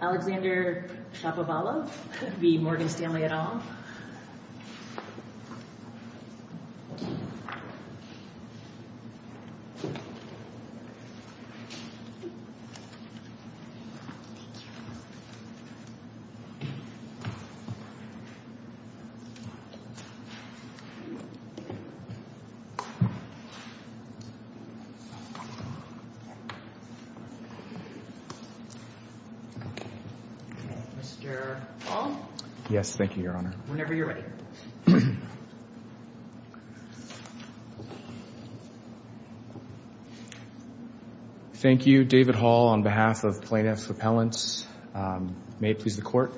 Alexander Shapovalov v. Morgan Stanley et al. Mr. Hall? Yes, thank you, Your Honor. Whenever you're ready. Thank you, David Hall, on behalf of Plaintiffs' Repellents. May it please the Court.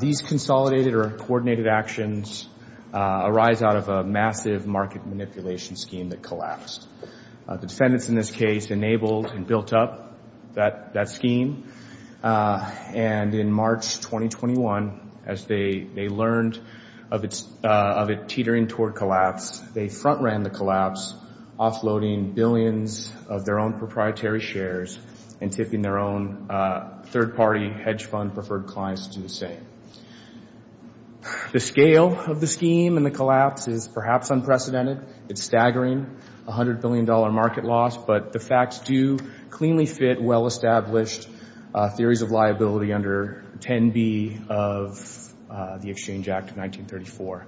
These consolidated or uncoordinated actions arise out of a massive market manipulation scheme that collapsed. The defendants in this case enabled and built up that scheme. And in March 2021, as they learned of it teetering toward collapse, they front-ran the collapse, offloading billions of their own proprietary shares and tipping their own third-party hedge fund-preferred clients to the same. The scale of the scheme and the collapse is perhaps unprecedented. It's staggering, a $100 billion market loss, but the facts do cleanly fit well-established theories of liability under 10B of the Exchange Act of 1934.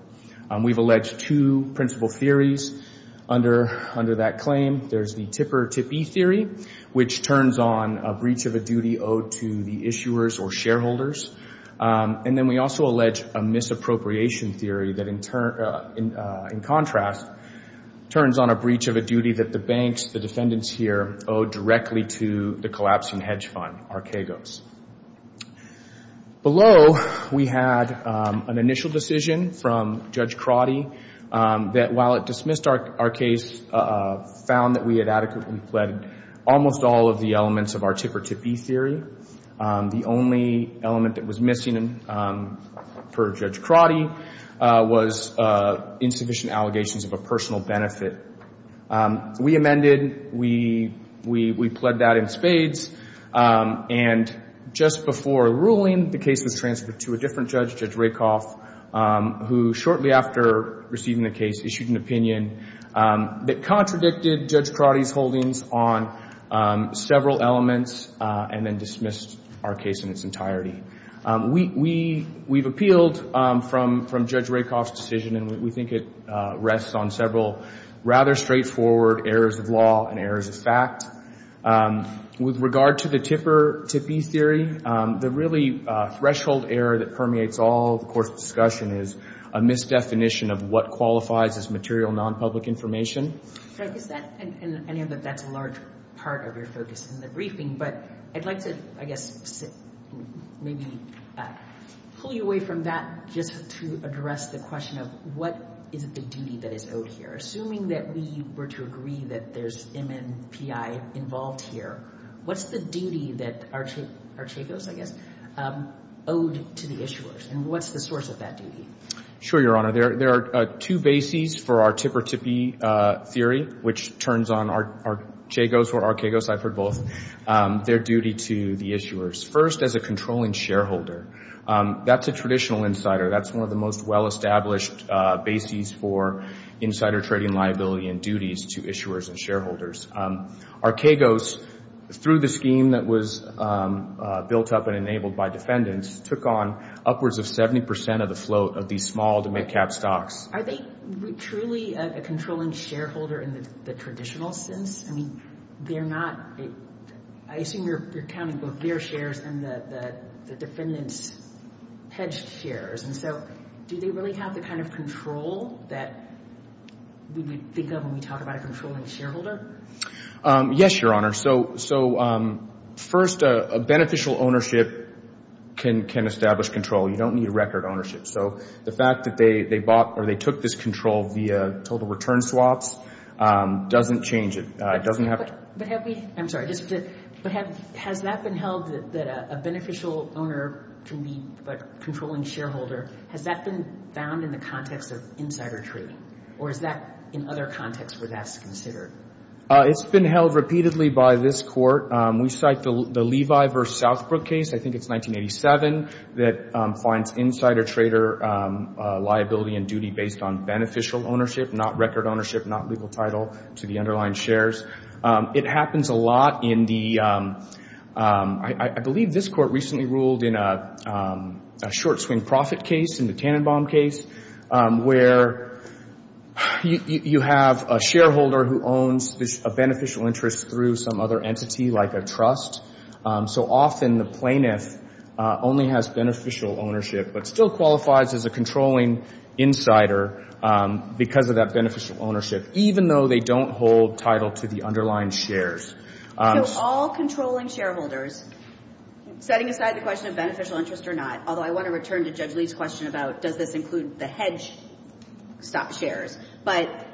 We've alleged two principal theories under that claim. There's the tipper-tippee theory, which turns on a breach of a duty owed to the issuers or shareholders. And then we also allege a misappropriation theory that, in contrast, turns on a breach of a duty that the banks, the defendants here, owe directly to the collapsing hedge fund, Archegos. Below, we had an initial decision from Judge Crotty that, while it dismissed our case, found that we had adequately fled almost all of the elements of our tipper-tippee theory. The only element that was missing, per Judge Crotty, was insufficient allegations of a personal benefit. We amended. We pled that in spades. And just before a ruling, the case was transferred to a different judge, Judge Rakoff, who, shortly after receiving the case, issued an opinion that contradicted Judge Crotty's holdings on several elements and then dismissed our case in its entirety. We've appealed from Judge Rakoff's decision, and we think it rests on several rather straightforward errors of law and errors of fact. With regard to the tipper-tippee theory, the really threshold error that permeates all the course of discussion is a misdefinition of what qualifies as material nonpublic information. I know that that's a large part of your focus in the briefing, but I'd like to, I guess, maybe pull you away from that just to address the question of what is it the duty that is owed here? Assuming that we were to agree that there's MMPI involved here, what's the duty that Archegos, I guess, owed to the issuers, and what's the source of that duty? Sure, Your Honor. There are two bases for our tipper-tippee theory, which turns on Archegos or Archegos, I've heard both, their duty to the issuers. First, as a controlling shareholder, that's a traditional insider. That's one of the most well-established bases for insider trading liability and duties to issuers and shareholders. Archegos, through the scheme that was built up and enabled by defendants, took on upwards of 70% of the float of these small to mid-cap stocks. Are they truly a controlling shareholder in the traditional sense? I mean, they're not. I assume you're counting both their shares and the defendants' hedged shares, and so do they really have the kind of control that we would think of when we talk about a controlling shareholder? Yes, Your Honor. So first, a beneficial ownership can establish control. You don't need a record ownership. So the fact that they bought or they took this control via total return swaps doesn't change it. I'm sorry. Has that been held that a beneficial owner can be a controlling shareholder? Has that been found in the context of insider trading, or is that in other contexts where that's considered? It's been held repeatedly by this Court. We cite the Levi v. Southbrook case, I think it's 1987, that finds insider trader liability and duty based on beneficial ownership, not record ownership, not legal title to the underlying shares. It happens a lot in the – I believe this Court recently ruled in a short-swing profit case, in the Tannenbaum case, where you have a shareholder who owns a beneficial interest through some other entity like a trust. So often the plaintiff only has beneficial ownership but still qualifies as a controlling insider because of that beneficial ownership, even though they don't hold title to the underlying shares. So all controlling shareholders, setting aside the question of beneficial interest or not, although I want to return to Judge Lee's question about does this include the hedge stock shares, but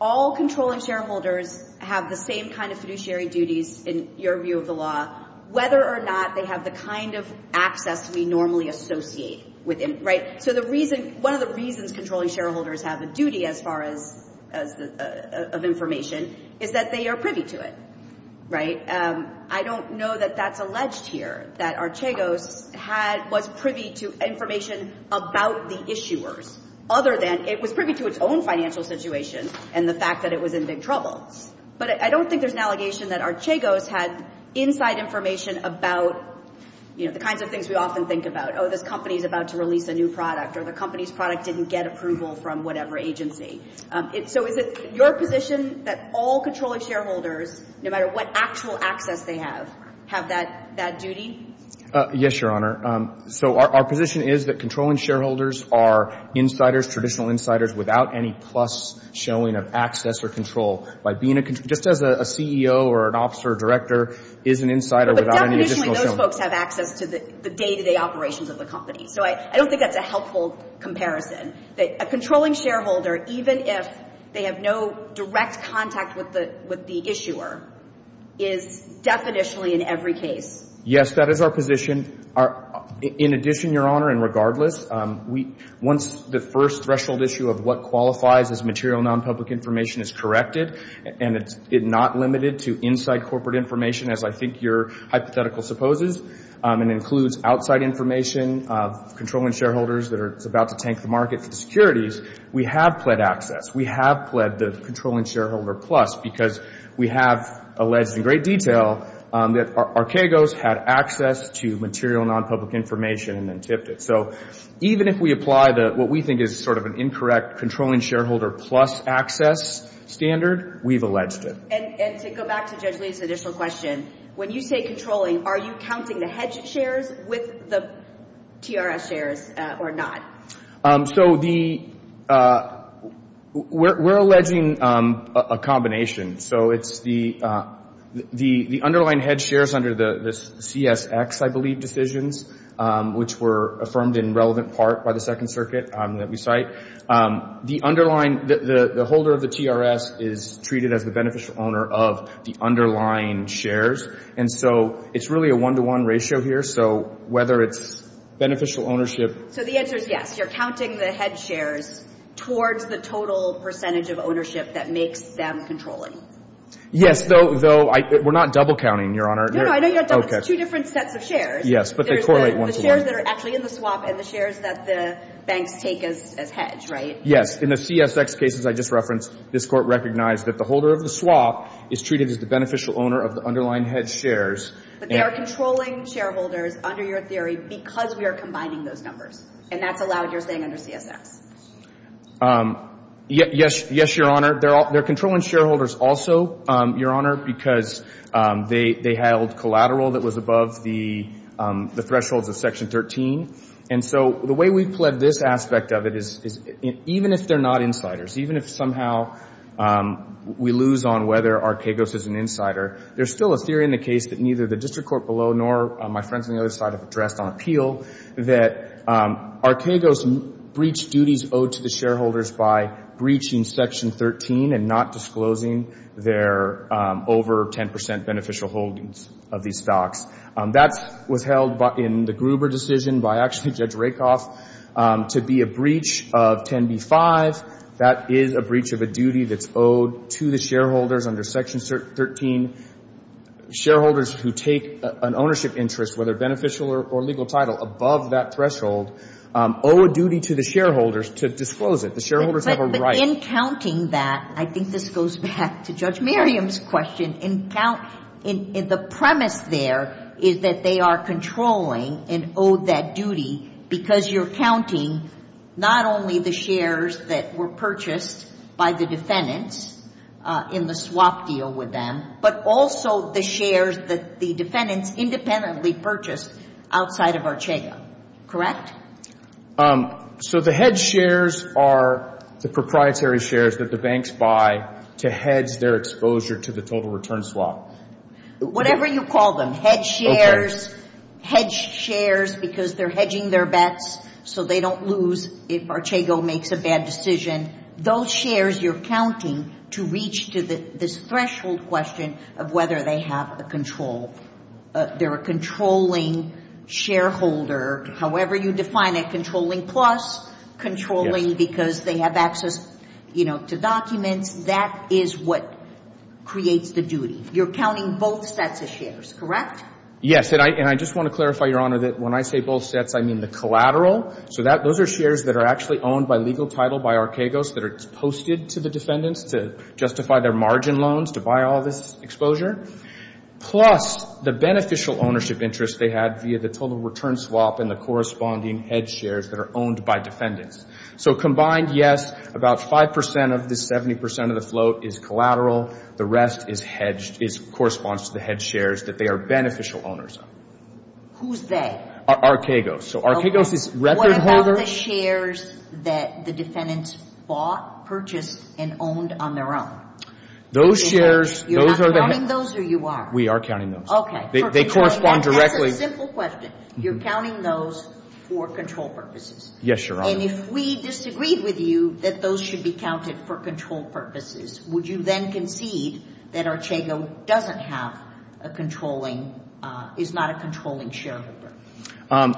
all controlling shareholders have the same kind of fiduciary duties, in your view of the law, whether or not they have the kind of access we normally associate with them, right? So the reason – one of the reasons controlling shareholders have a duty as far as – of information is that they are privy to it, right? I don't know that that's alleged here, that Archegos had – was privy to information about the issuers, other than it was privy to its own financial situation and the fact that it was in big trouble. But I don't think there's an allegation that Archegos had inside information about, you know, the kinds of things we often think about. Oh, this company is about to release a new product, or the company's product didn't get approval from whatever agency. So is it your position that all controlling shareholders, no matter what actual access they have, have that duty? Yes, Your Honor. So our position is that controlling shareholders are insiders, traditional insiders, without any plus showing of access or control. By being a – just as a CEO or an officer or director is an insider without any additional showing. But definitely those folks have access to the day-to-day operations of the company. So I don't think that's a helpful comparison, that a controlling shareholder, even if they have no direct contact with the issuer, is definitionally in every case. Yes, that is our position. In addition, Your Honor, and regardless, once the first threshold issue of what qualifies as material nonpublic information is corrected, and it's not limited to inside corporate information, as I think your hypothetical supposes, and includes outside information of controlling shareholders that are about to tank the market for the securities, we have pled access. We have pled the controlling shareholder plus because we have alleged in great detail that Archegos had access to material nonpublic information and then tipped it. So even if we apply what we think is sort of an incorrect controlling shareholder plus access standard, we've alleged it. And to go back to Judge Lee's additional question, when you say controlling, are you counting the hedge shares with the TRS shares or not? So we're alleging a combination. So it's the underlying hedge shares under the CSX, I believe, decisions, which were affirmed in relevant part by the Second Circuit that we cite. The underlying, the holder of the TRS is treated as the beneficial owner of the underlying shares. And so it's really a one-to-one ratio here. So whether it's beneficial ownership. So the answer is yes. You're counting the hedge shares towards the total percentage of ownership that makes them controlling. Yes, though we're not double counting, Your Honor. No, no, I know you're not double. It's two different sets of shares. Yes, but they correlate one to one. The shares that are actually in the swap and the shares that the banks take as hedge, right? Yes. In the CSX cases I just referenced, this Court recognized that the holder of the swap is treated as the beneficial owner of the underlying hedge shares. But they are controlling shareholders under your theory because we are combining those numbers. And that's allowed, you're saying, under CSX. Yes, Your Honor. They're controlling shareholders also, Your Honor, because they held collateral that was above the thresholds of Section 13. And so the way we've pledged this aspect of it is even if they're not insiders, even if somehow we lose on whether Arquegos is an insider, there's still a theory in the case that neither the District Court below nor my friends on the other side have addressed on appeal, that Arquegos breached duties owed to the shareholders by breaching Section 13 and not disclosing their over 10 percent beneficial holdings of these stocks. That was held in the Gruber decision by actually Judge Rakoff to be a breach of 10b-5. That is a breach of a duty that's owed to the shareholders under Section 13. Shareholders who take an ownership interest, whether beneficial or legal title, above that threshold owe a duty to the shareholders to disclose it. The shareholders have a right. In counting that, I think this goes back to Judge Merriam's question, in the premise there is that they are controlling and owe that duty because you're counting not only the shares that were purchased by the defendants in the swap deal with them, but also the shares that the defendants independently purchased outside of Arquegos. Correct? So the hedge shares are the proprietary shares that the banks buy to hedge their exposure to the total return swap. Whatever you call them, hedge shares, hedge shares because they're hedging their bets so they don't lose if Arquegos makes a bad decision. Those shares you're counting to reach to this threshold question of whether they have the control. They're a controlling shareholder. However you define it, controlling plus, controlling because they have access, you know, to documents. That is what creates the duty. You're counting both sets of shares, correct? Yes. And I just want to clarify, Your Honor, that when I say both sets, I mean the collateral. So those are shares that are actually owned by legal title by Arquegos that are posted to the defendants to justify their margin loans to buy all this exposure. Plus the beneficial ownership interest they had via the total return swap and the corresponding hedge shares that are owned by defendants. So combined, yes, about 5% of this 70% of the float is collateral. The rest corresponds to the hedge shares that they are beneficial owners of. Who's they? Arquegos. So Arquegos is record holder. What about the shares that the defendants bought, purchased, and owned on their own? Those shares. You're not counting those or you are? We are counting those. Okay. They correspond directly. That's a simple question. You're counting those for control purposes. Yes, Your Honor. And if we disagreed with you that those should be counted for control purposes, would you then concede that Arquegos doesn't have a controlling, is not a controlling shareholder?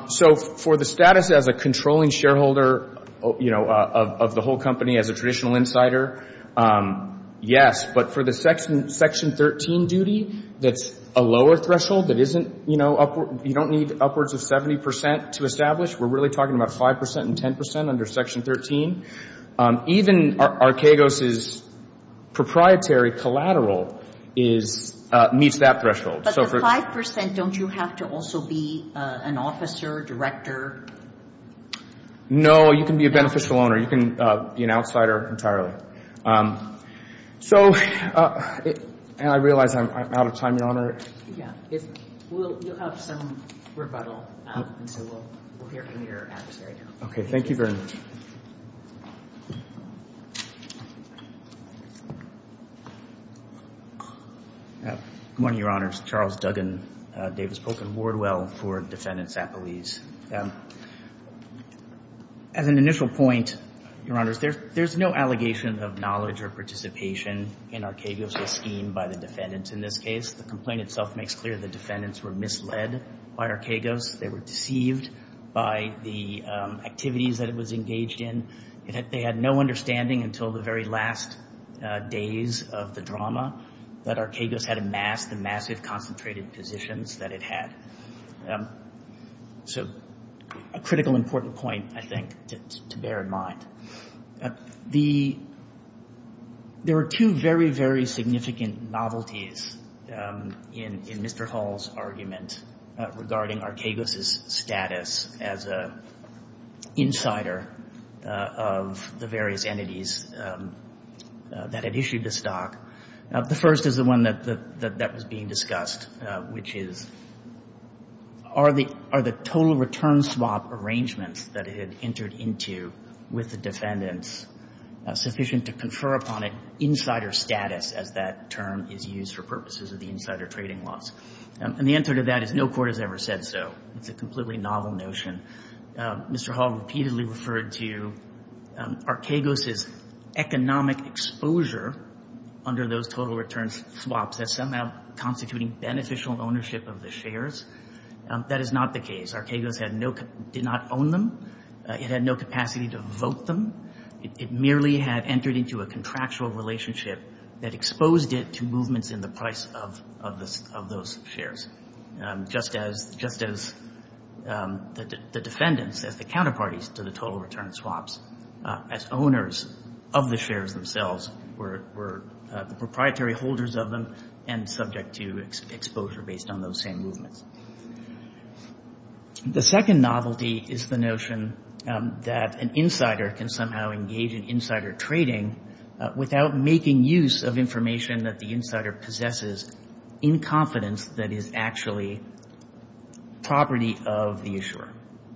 So for the status as a controlling shareholder, you know, of the whole company as a traditional insider, yes, but for the Section 13 duty that's a lower threshold that isn't, you know, you don't need upwards of 70% to establish. We're really talking about 5% and 10% under Section 13. Even Arquegos' proprietary collateral meets that threshold. But the 5%, don't you have to also be an officer, director? No, you can be a beneficial owner. You can be an outsider entirely. So I realize I'm out of time, Your Honor. Yeah. You'll have some rebuttal, and so we'll hear from your adversary now. Okay. Thank you very much. Good morning, Your Honors. Charles Duggan, Davis Polk, and Wardwell for defendants at police. As an initial point, Your Honors, there's no allegation of knowledge or participation in Arquegos' scheme by the defendants in this case. The complaint itself makes clear the defendants were misled by Arquegos. They were deceived by the activities that it was engaged in. They had no understanding until the very last days of the drama that Arquegos had amassed the massive concentrated positions that it had. So a critical important point, I think, to bear in mind. There are two very, very significant novelties in Mr. Hall's argument regarding Arquegos' status as an insider of the various entities that had issued the stock. The first is the one that was being discussed, which is are the total return swap arrangements that it had entered into with the defendants sufficient to confer upon it insider status as that term is used for purposes of the insider trading laws? And the answer to that is no court has ever said so. It's a completely novel notion. Mr. Hall repeatedly referred to Arquegos' economic exposure under those total return swaps as somehow constituting beneficial ownership of the shares. That is not the case. Arquegos did not own them. It had no capacity to vote them. It merely had entered into a contractual relationship that exposed it to movements in the price of those shares. Just as the defendants, as the counterparties to the total return swaps, as owners of the shares themselves were the proprietary holders of them and subject to exposure based on those same movements. The second novelty is the notion that an insider can somehow engage in insider trading without making use of information that the insider possesses in confidence that is actually property of the issuer.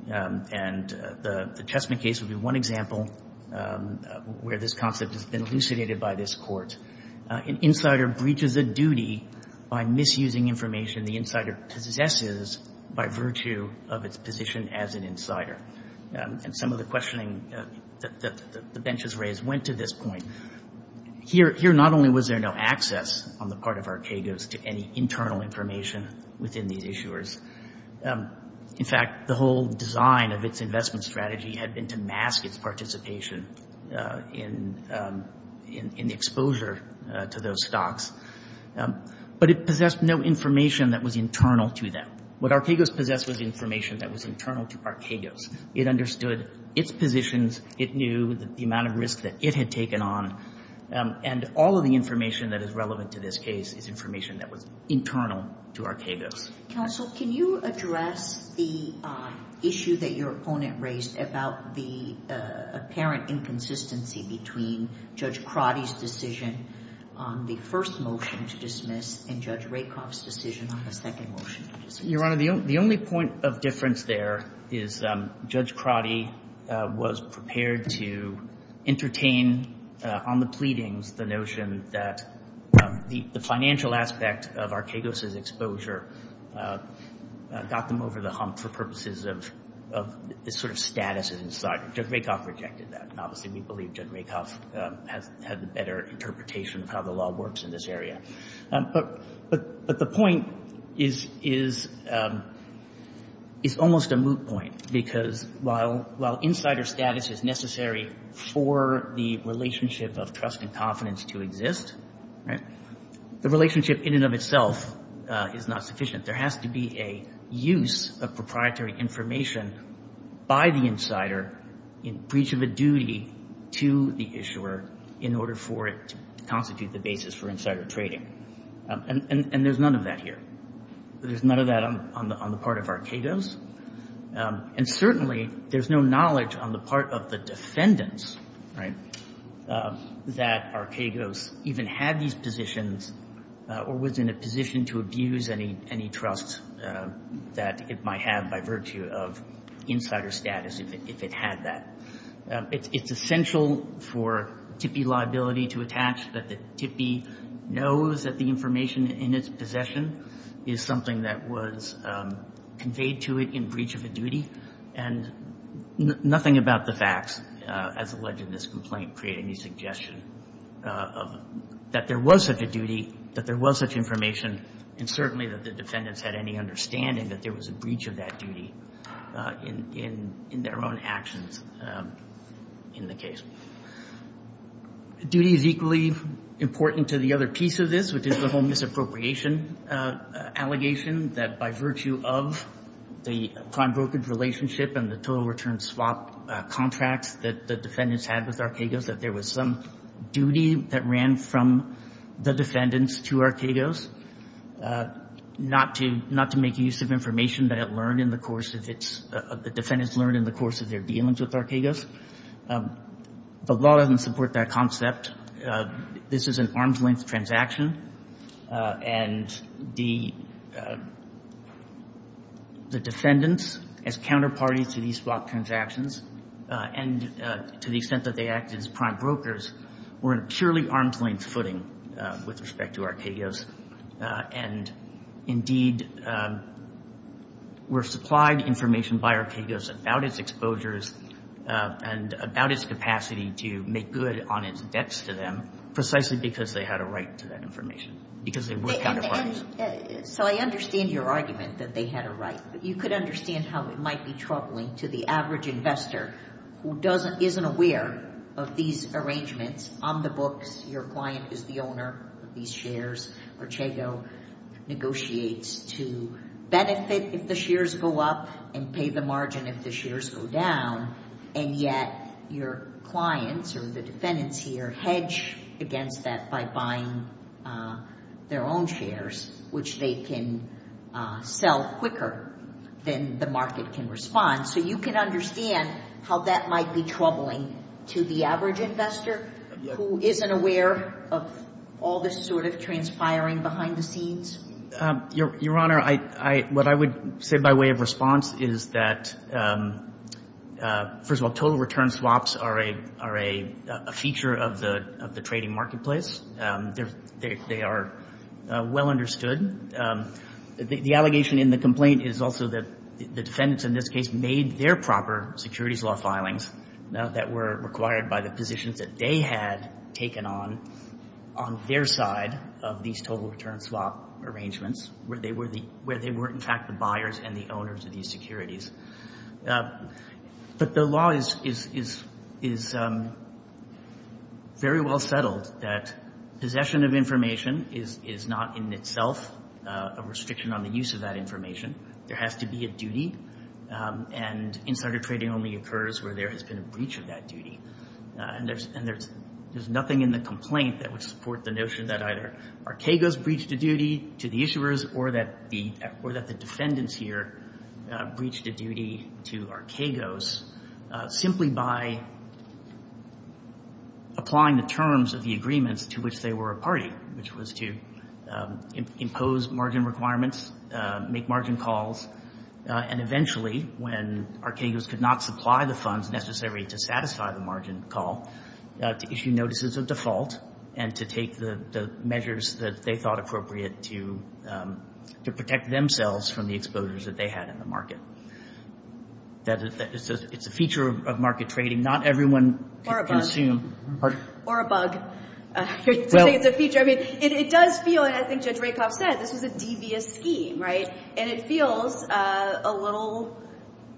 And the Chessman case would be one example where this concept has been elucidated by this Court. An insider breaches a duty by misusing information the insider possesses by virtue of its position as an insider. And some of the questioning that the benches raised went to this point. Here not only was there no access on the part of Arquegos to any internal information within these issuers, in fact the whole design of its investment strategy had been to mask its participation in the exposure to those stocks. But it possessed no information that was internal to them. What Arquegos possessed was information that was internal to Arquegos. It understood its positions. It knew the amount of risk that it had taken on. And all of the information that is relevant to this case is information that was internal to Arquegos. Counsel, can you address the issue that your opponent raised about the apparent inconsistency between Judge Crotty's decision on the first motion to dismiss and Judge Rakoff's decision on the second motion to dismiss? Your Honor, the only point of difference there is Judge Crotty was prepared to entertain on the pleadings the notion that the financial aspect of Arquegos' exposure got them over the hump for purposes of this sort of status as an insider. Judge Rakoff rejected that. And obviously we believe Judge Rakoff had a better interpretation of how the law works in this area. But the point is almost a moot point because while insider status is necessary for the relationship of trust and confidence to exist, the relationship in and of itself is not sufficient. There has to be a use of proprietary information by the insider in breach of a duty to the issuer in order for it to constitute the basis for insider trading. And there's none of that here. There's none of that on the part of Arquegos. And certainly there's no knowledge on the part of the defendants, right, that Arquegos even had these positions or was in a position to abuse any trust that it might have by virtue of insider status if it had that. It's essential for TIPI liability to attach that the TIPI knows that the information in its possession is something that was conveyed to it in breach of a duty. And nothing about the facts as alleged in this complaint create any suggestion that there was such a duty, that there was such information, and certainly that the defendants had any understanding that there was a breach of that duty in their own actions in the case. Duty is equally important to the other piece of this, which is the whole misappropriation allegation, that by virtue of the prime brokerage relationship and the total return swap contracts that the defendants had with Arquegos, that there was some duty that ran from the defendants to Arquegos not to make use of information that the defendants learned in the course of their dealings with Arquegos. But law doesn't support that concept. This is an arm's-length transaction. And the defendants, as counterparty to these swap transactions, and to the extent that they acted as prime brokers, were in a purely arm's-length footing with respect to Arquegos. And, indeed, were supplied information by Arquegos about its exposures and about its capacity to make good on its debts to them, precisely because they had a right to that information, because they were counterparties. So I understand your argument that they had a right. You could understand how it might be troubling to the average investor who isn't aware of these arrangements on the books. Your client is the owner of these shares. Arquegos negotiates to benefit if the shares go up and pay the margin if the shares go down. And yet your clients or the defendants here hedge against that by buying their own shares, which they can sell quicker than the market can respond. So you can understand how that might be troubling to the average investor who isn't aware of all this sort of transpiring behind the scenes. Your Honor, what I would say by way of response is that, first of all, total return swaps are a feature of the trading marketplace. They are well understood. The allegation in the complaint is also that the defendants in this case made their proper securities law filings that were required by the positions that they had taken on on their side of these total return swap arrangements, where they were, in fact, the buyers and the owners of these securities. But the law is very well settled that possession of information is not in itself a restriction on the use of that information. There has to be a duty. And insider trading only occurs where there has been a breach of that duty. And there's nothing in the complaint that would support the notion that either Arquegos breached a duty to the issuers or that the defendants here breached a duty to Arquegos simply by applying the terms of the agreements to which they were a party, which was to impose margin requirements, make margin calls, and eventually, when Arquegos could not supply the funds necessary to satisfy the margin call, to issue notices of default and to take the measures that they thought appropriate to protect themselves from the exposures that they had in the market. It's a feature of market trading. Not everyone can assume. Or a bug. It's a feature. I mean, it does feel, and I think Judge Rakoff said, this is a devious scheme, right? And it feels a little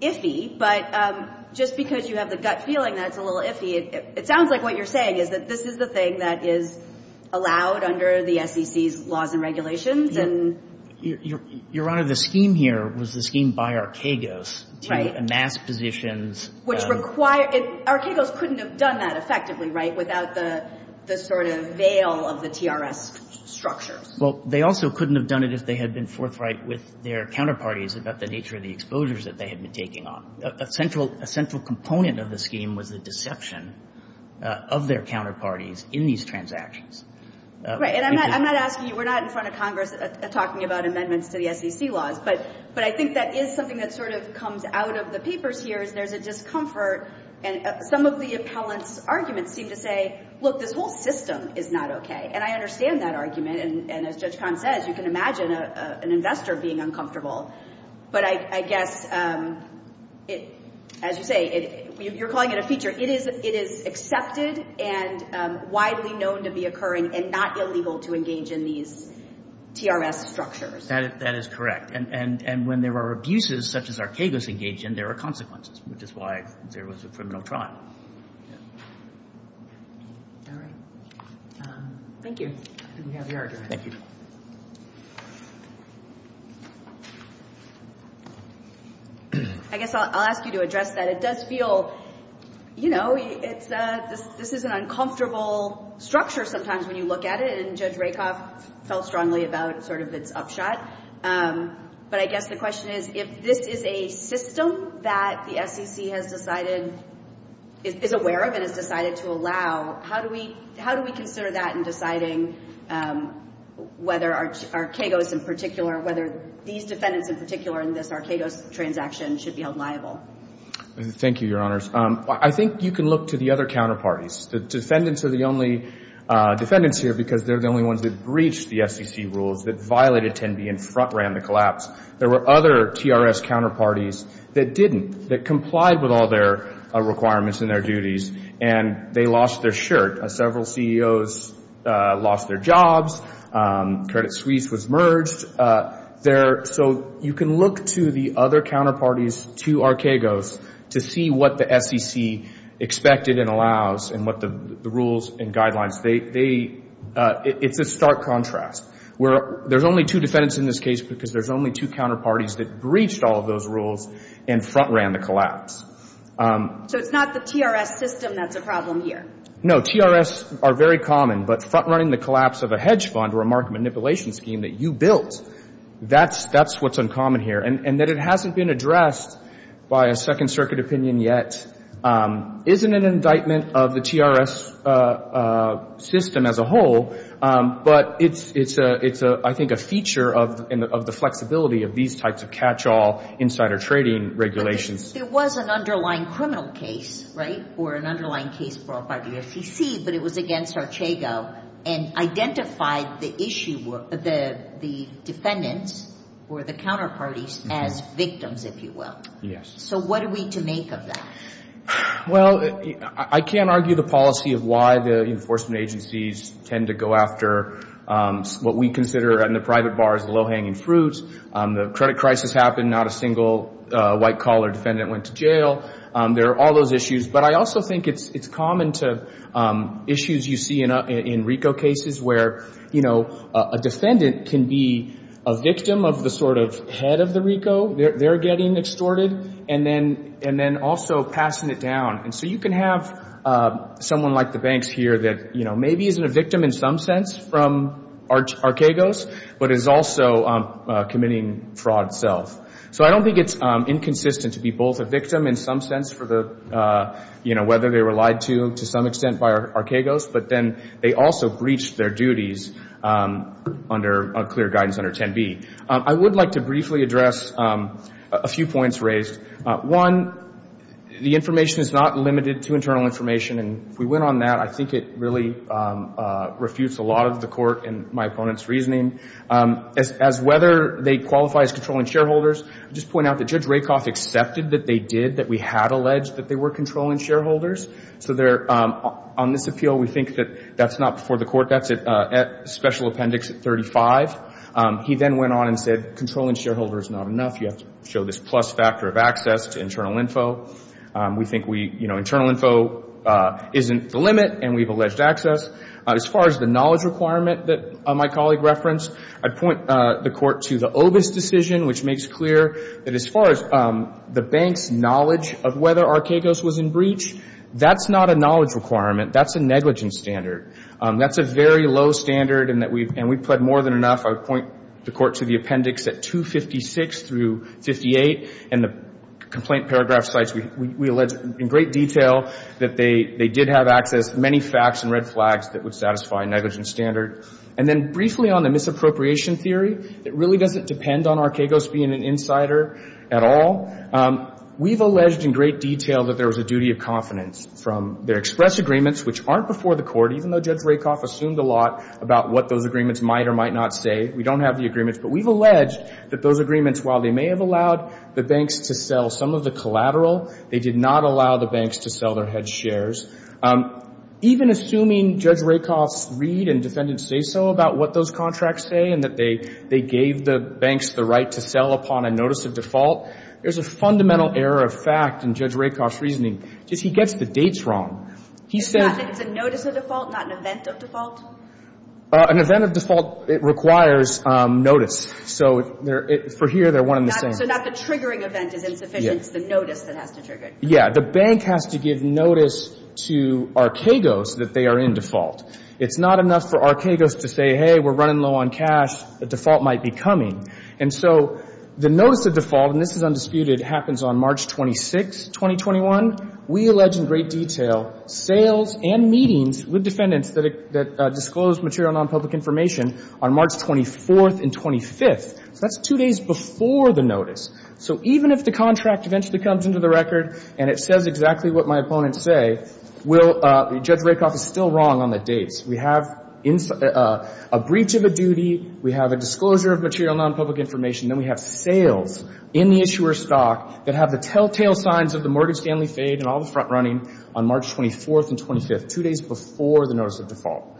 iffy. But just because you have the gut feeling that it's a little iffy, it sounds like what you're saying is that this is the thing that is allowed under the SEC's laws and regulations. Your Honor, the scheme here was the scheme by Arquegos to amass positions. Which required – Arquegos couldn't have done that effectively, right, without the sort of veil of the TRS structures. Well, they also couldn't have done it if they had been forthright with their counterparties about the nature of the exposures that they had been taking on. A central component of the scheme was the deception of their counterparties in these transactions. Right. And I'm not asking you – we're not in front of Congress talking about amendments to the SEC laws. But I think that is something that sort of comes out of the papers here is there's a discomfort. Some of the appellant's arguments seem to say, look, this whole system is not okay. And I understand that argument. And as Judge Kahn says, you can imagine an investor being uncomfortable. But I guess, as you say, you're calling it a feature. It is accepted and widely known to be occurring and not illegal to engage in these TRS structures. That is correct. And when there are abuses such as Arquegos engaged in, there are consequences, which is why there was a criminal trial. All right. Thank you. We have your argument. Thank you. I guess I'll ask you to address that. It does feel, you know, this is an uncomfortable structure sometimes when you look at it. And Judge Rakoff felt strongly about sort of its upshot. But I guess the question is, if this is a system that the SEC has decided – is aware of and has decided to allow, how do we consider that in deciding whether Arquegos in particular, whether these defendants in particular in this Arquegos transaction should be held liable? Thank you, Your Honors. I think you can look to the other counterparties. The defendants are the only defendants here because they're the only ones that breached the SEC rules, that violated 10B and ran the collapse. There were other TRS counterparties that didn't, that complied with all their requirements and their duties, and they lost their shirt. Several CEOs lost their jobs. Credit Suisse was merged. So you can look to the other counterparties to Arquegos to see what the SEC expected and allows and what the rules and guidelines – it's a stark contrast. There's only two defendants in this case because there's only two counterparties that breached all of those rules and front-ran the collapse. So it's not the TRS system that's a problem here? No, TRS are very common. But front-running the collapse of a hedge fund or a market manipulation scheme that you built, that's what's uncommon here. And that it hasn't been addressed by a Second Circuit opinion yet isn't an indictment of the TRS system as a whole, but it's, I think, a feature of the flexibility of these types of catch-all insider trading regulations. But there was an underlying criminal case, right, or an underlying case brought by the SEC, but it was against Arquegos and identified the defendants or the counterparties as victims, if you will. Yes. So what are we to make of that? Well, I can't argue the policy of why the enforcement agencies tend to go after what we consider in the private bar as the low-hanging fruit. The credit crisis happened, not a single white-collar defendant went to jail. There are all those issues. But I also think it's common to issues you see in RICO cases where, you know, a defendant can be a victim of the sort of head of the RICO, they're getting extorted, and then also passing it down. And so you can have someone like the banks here that, you know, maybe isn't a victim in some sense from Arquegos, but is also committing fraud itself. So I don't think it's inconsistent to be both a victim in some sense for the, you know, whether they were lied to, to some extent, by Arquegos. But then they also breached their duties under clear guidance under 10B. I would like to briefly address a few points raised. One, the information is not limited to internal information. And if we went on that, I think it really refutes a lot of the court and my opponent's reasoning. As whether they qualify as controlling shareholders, I'll just point out that Judge Rakoff accepted that they did, that we had alleged that they were controlling shareholders. So on this appeal, we think that that's not before the court. That's at special appendix 35. He then went on and said controlling shareholders is not enough. You have to show this plus factor of access to internal info. We think we, you know, internal info isn't the limit, and we've alleged access. As far as the knowledge requirement that my colleague referenced, I'd point the court to the Obis decision, which makes clear that as far as the bank's knowledge of whether Arquegos was in breach, that's not a knowledge requirement. That's a negligence standard. That's a very low standard, and we've pled more than enough. I would point the court to the appendix at 256 through 58, and the complaint paragraph cites, we allege in great detail, that they did have access to many facts and red flags that would satisfy a negligence standard. And then briefly on the misappropriation theory, it really doesn't depend on Arquegos being an insider at all. We've alleged in great detail that there was a duty of confidence from their express agreements, which aren't before the court, even though Judge Rakoff assumed a lot about what those agreements might or might not say. We don't have the agreements, but we've alleged that those agreements, while they may have allowed the banks to sell some of the collateral, they did not allow the banks to sell their head shares. Even assuming Judge Rakoff's read and defendants say so about what those contracts say and that they gave the banks the right to sell upon a notice of default, there's a fundamental error of fact in Judge Rakoff's reasoning. He gets the dates wrong. He said — It's a notice of default, not an event of default? An event of default requires notice. So for here, they're one and the same. So not the triggering event is insufficient. It's the notice that has to trigger it. Yeah. The bank has to give notice to Arquegos that they are in default. It's not enough for Arquegos to say, hey, we're running low on cash, the default might be coming. And so the notice of default, and this is undisputed, happens on March 26, 2021. We allege in great detail sales and meetings with defendants that disclose material nonpublic information on March 24th and 25th. So that's two days before the notice. So even if the contract eventually comes into the record and it says exactly what my opponents say, Judge Rakoff is still wrong on the dates. We have a breach of a duty. We have a disclosure of material nonpublic information. Then we have sales in the issuer's stock that have the telltale signs of the mortgage family fade and all the front running on March 24th and 25th, two days before the notice of default.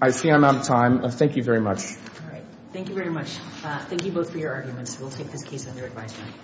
I see I'm out of time. Thank you very much. All right. Thank you very much. Thank you both for your arguments. We'll take this case under advisement.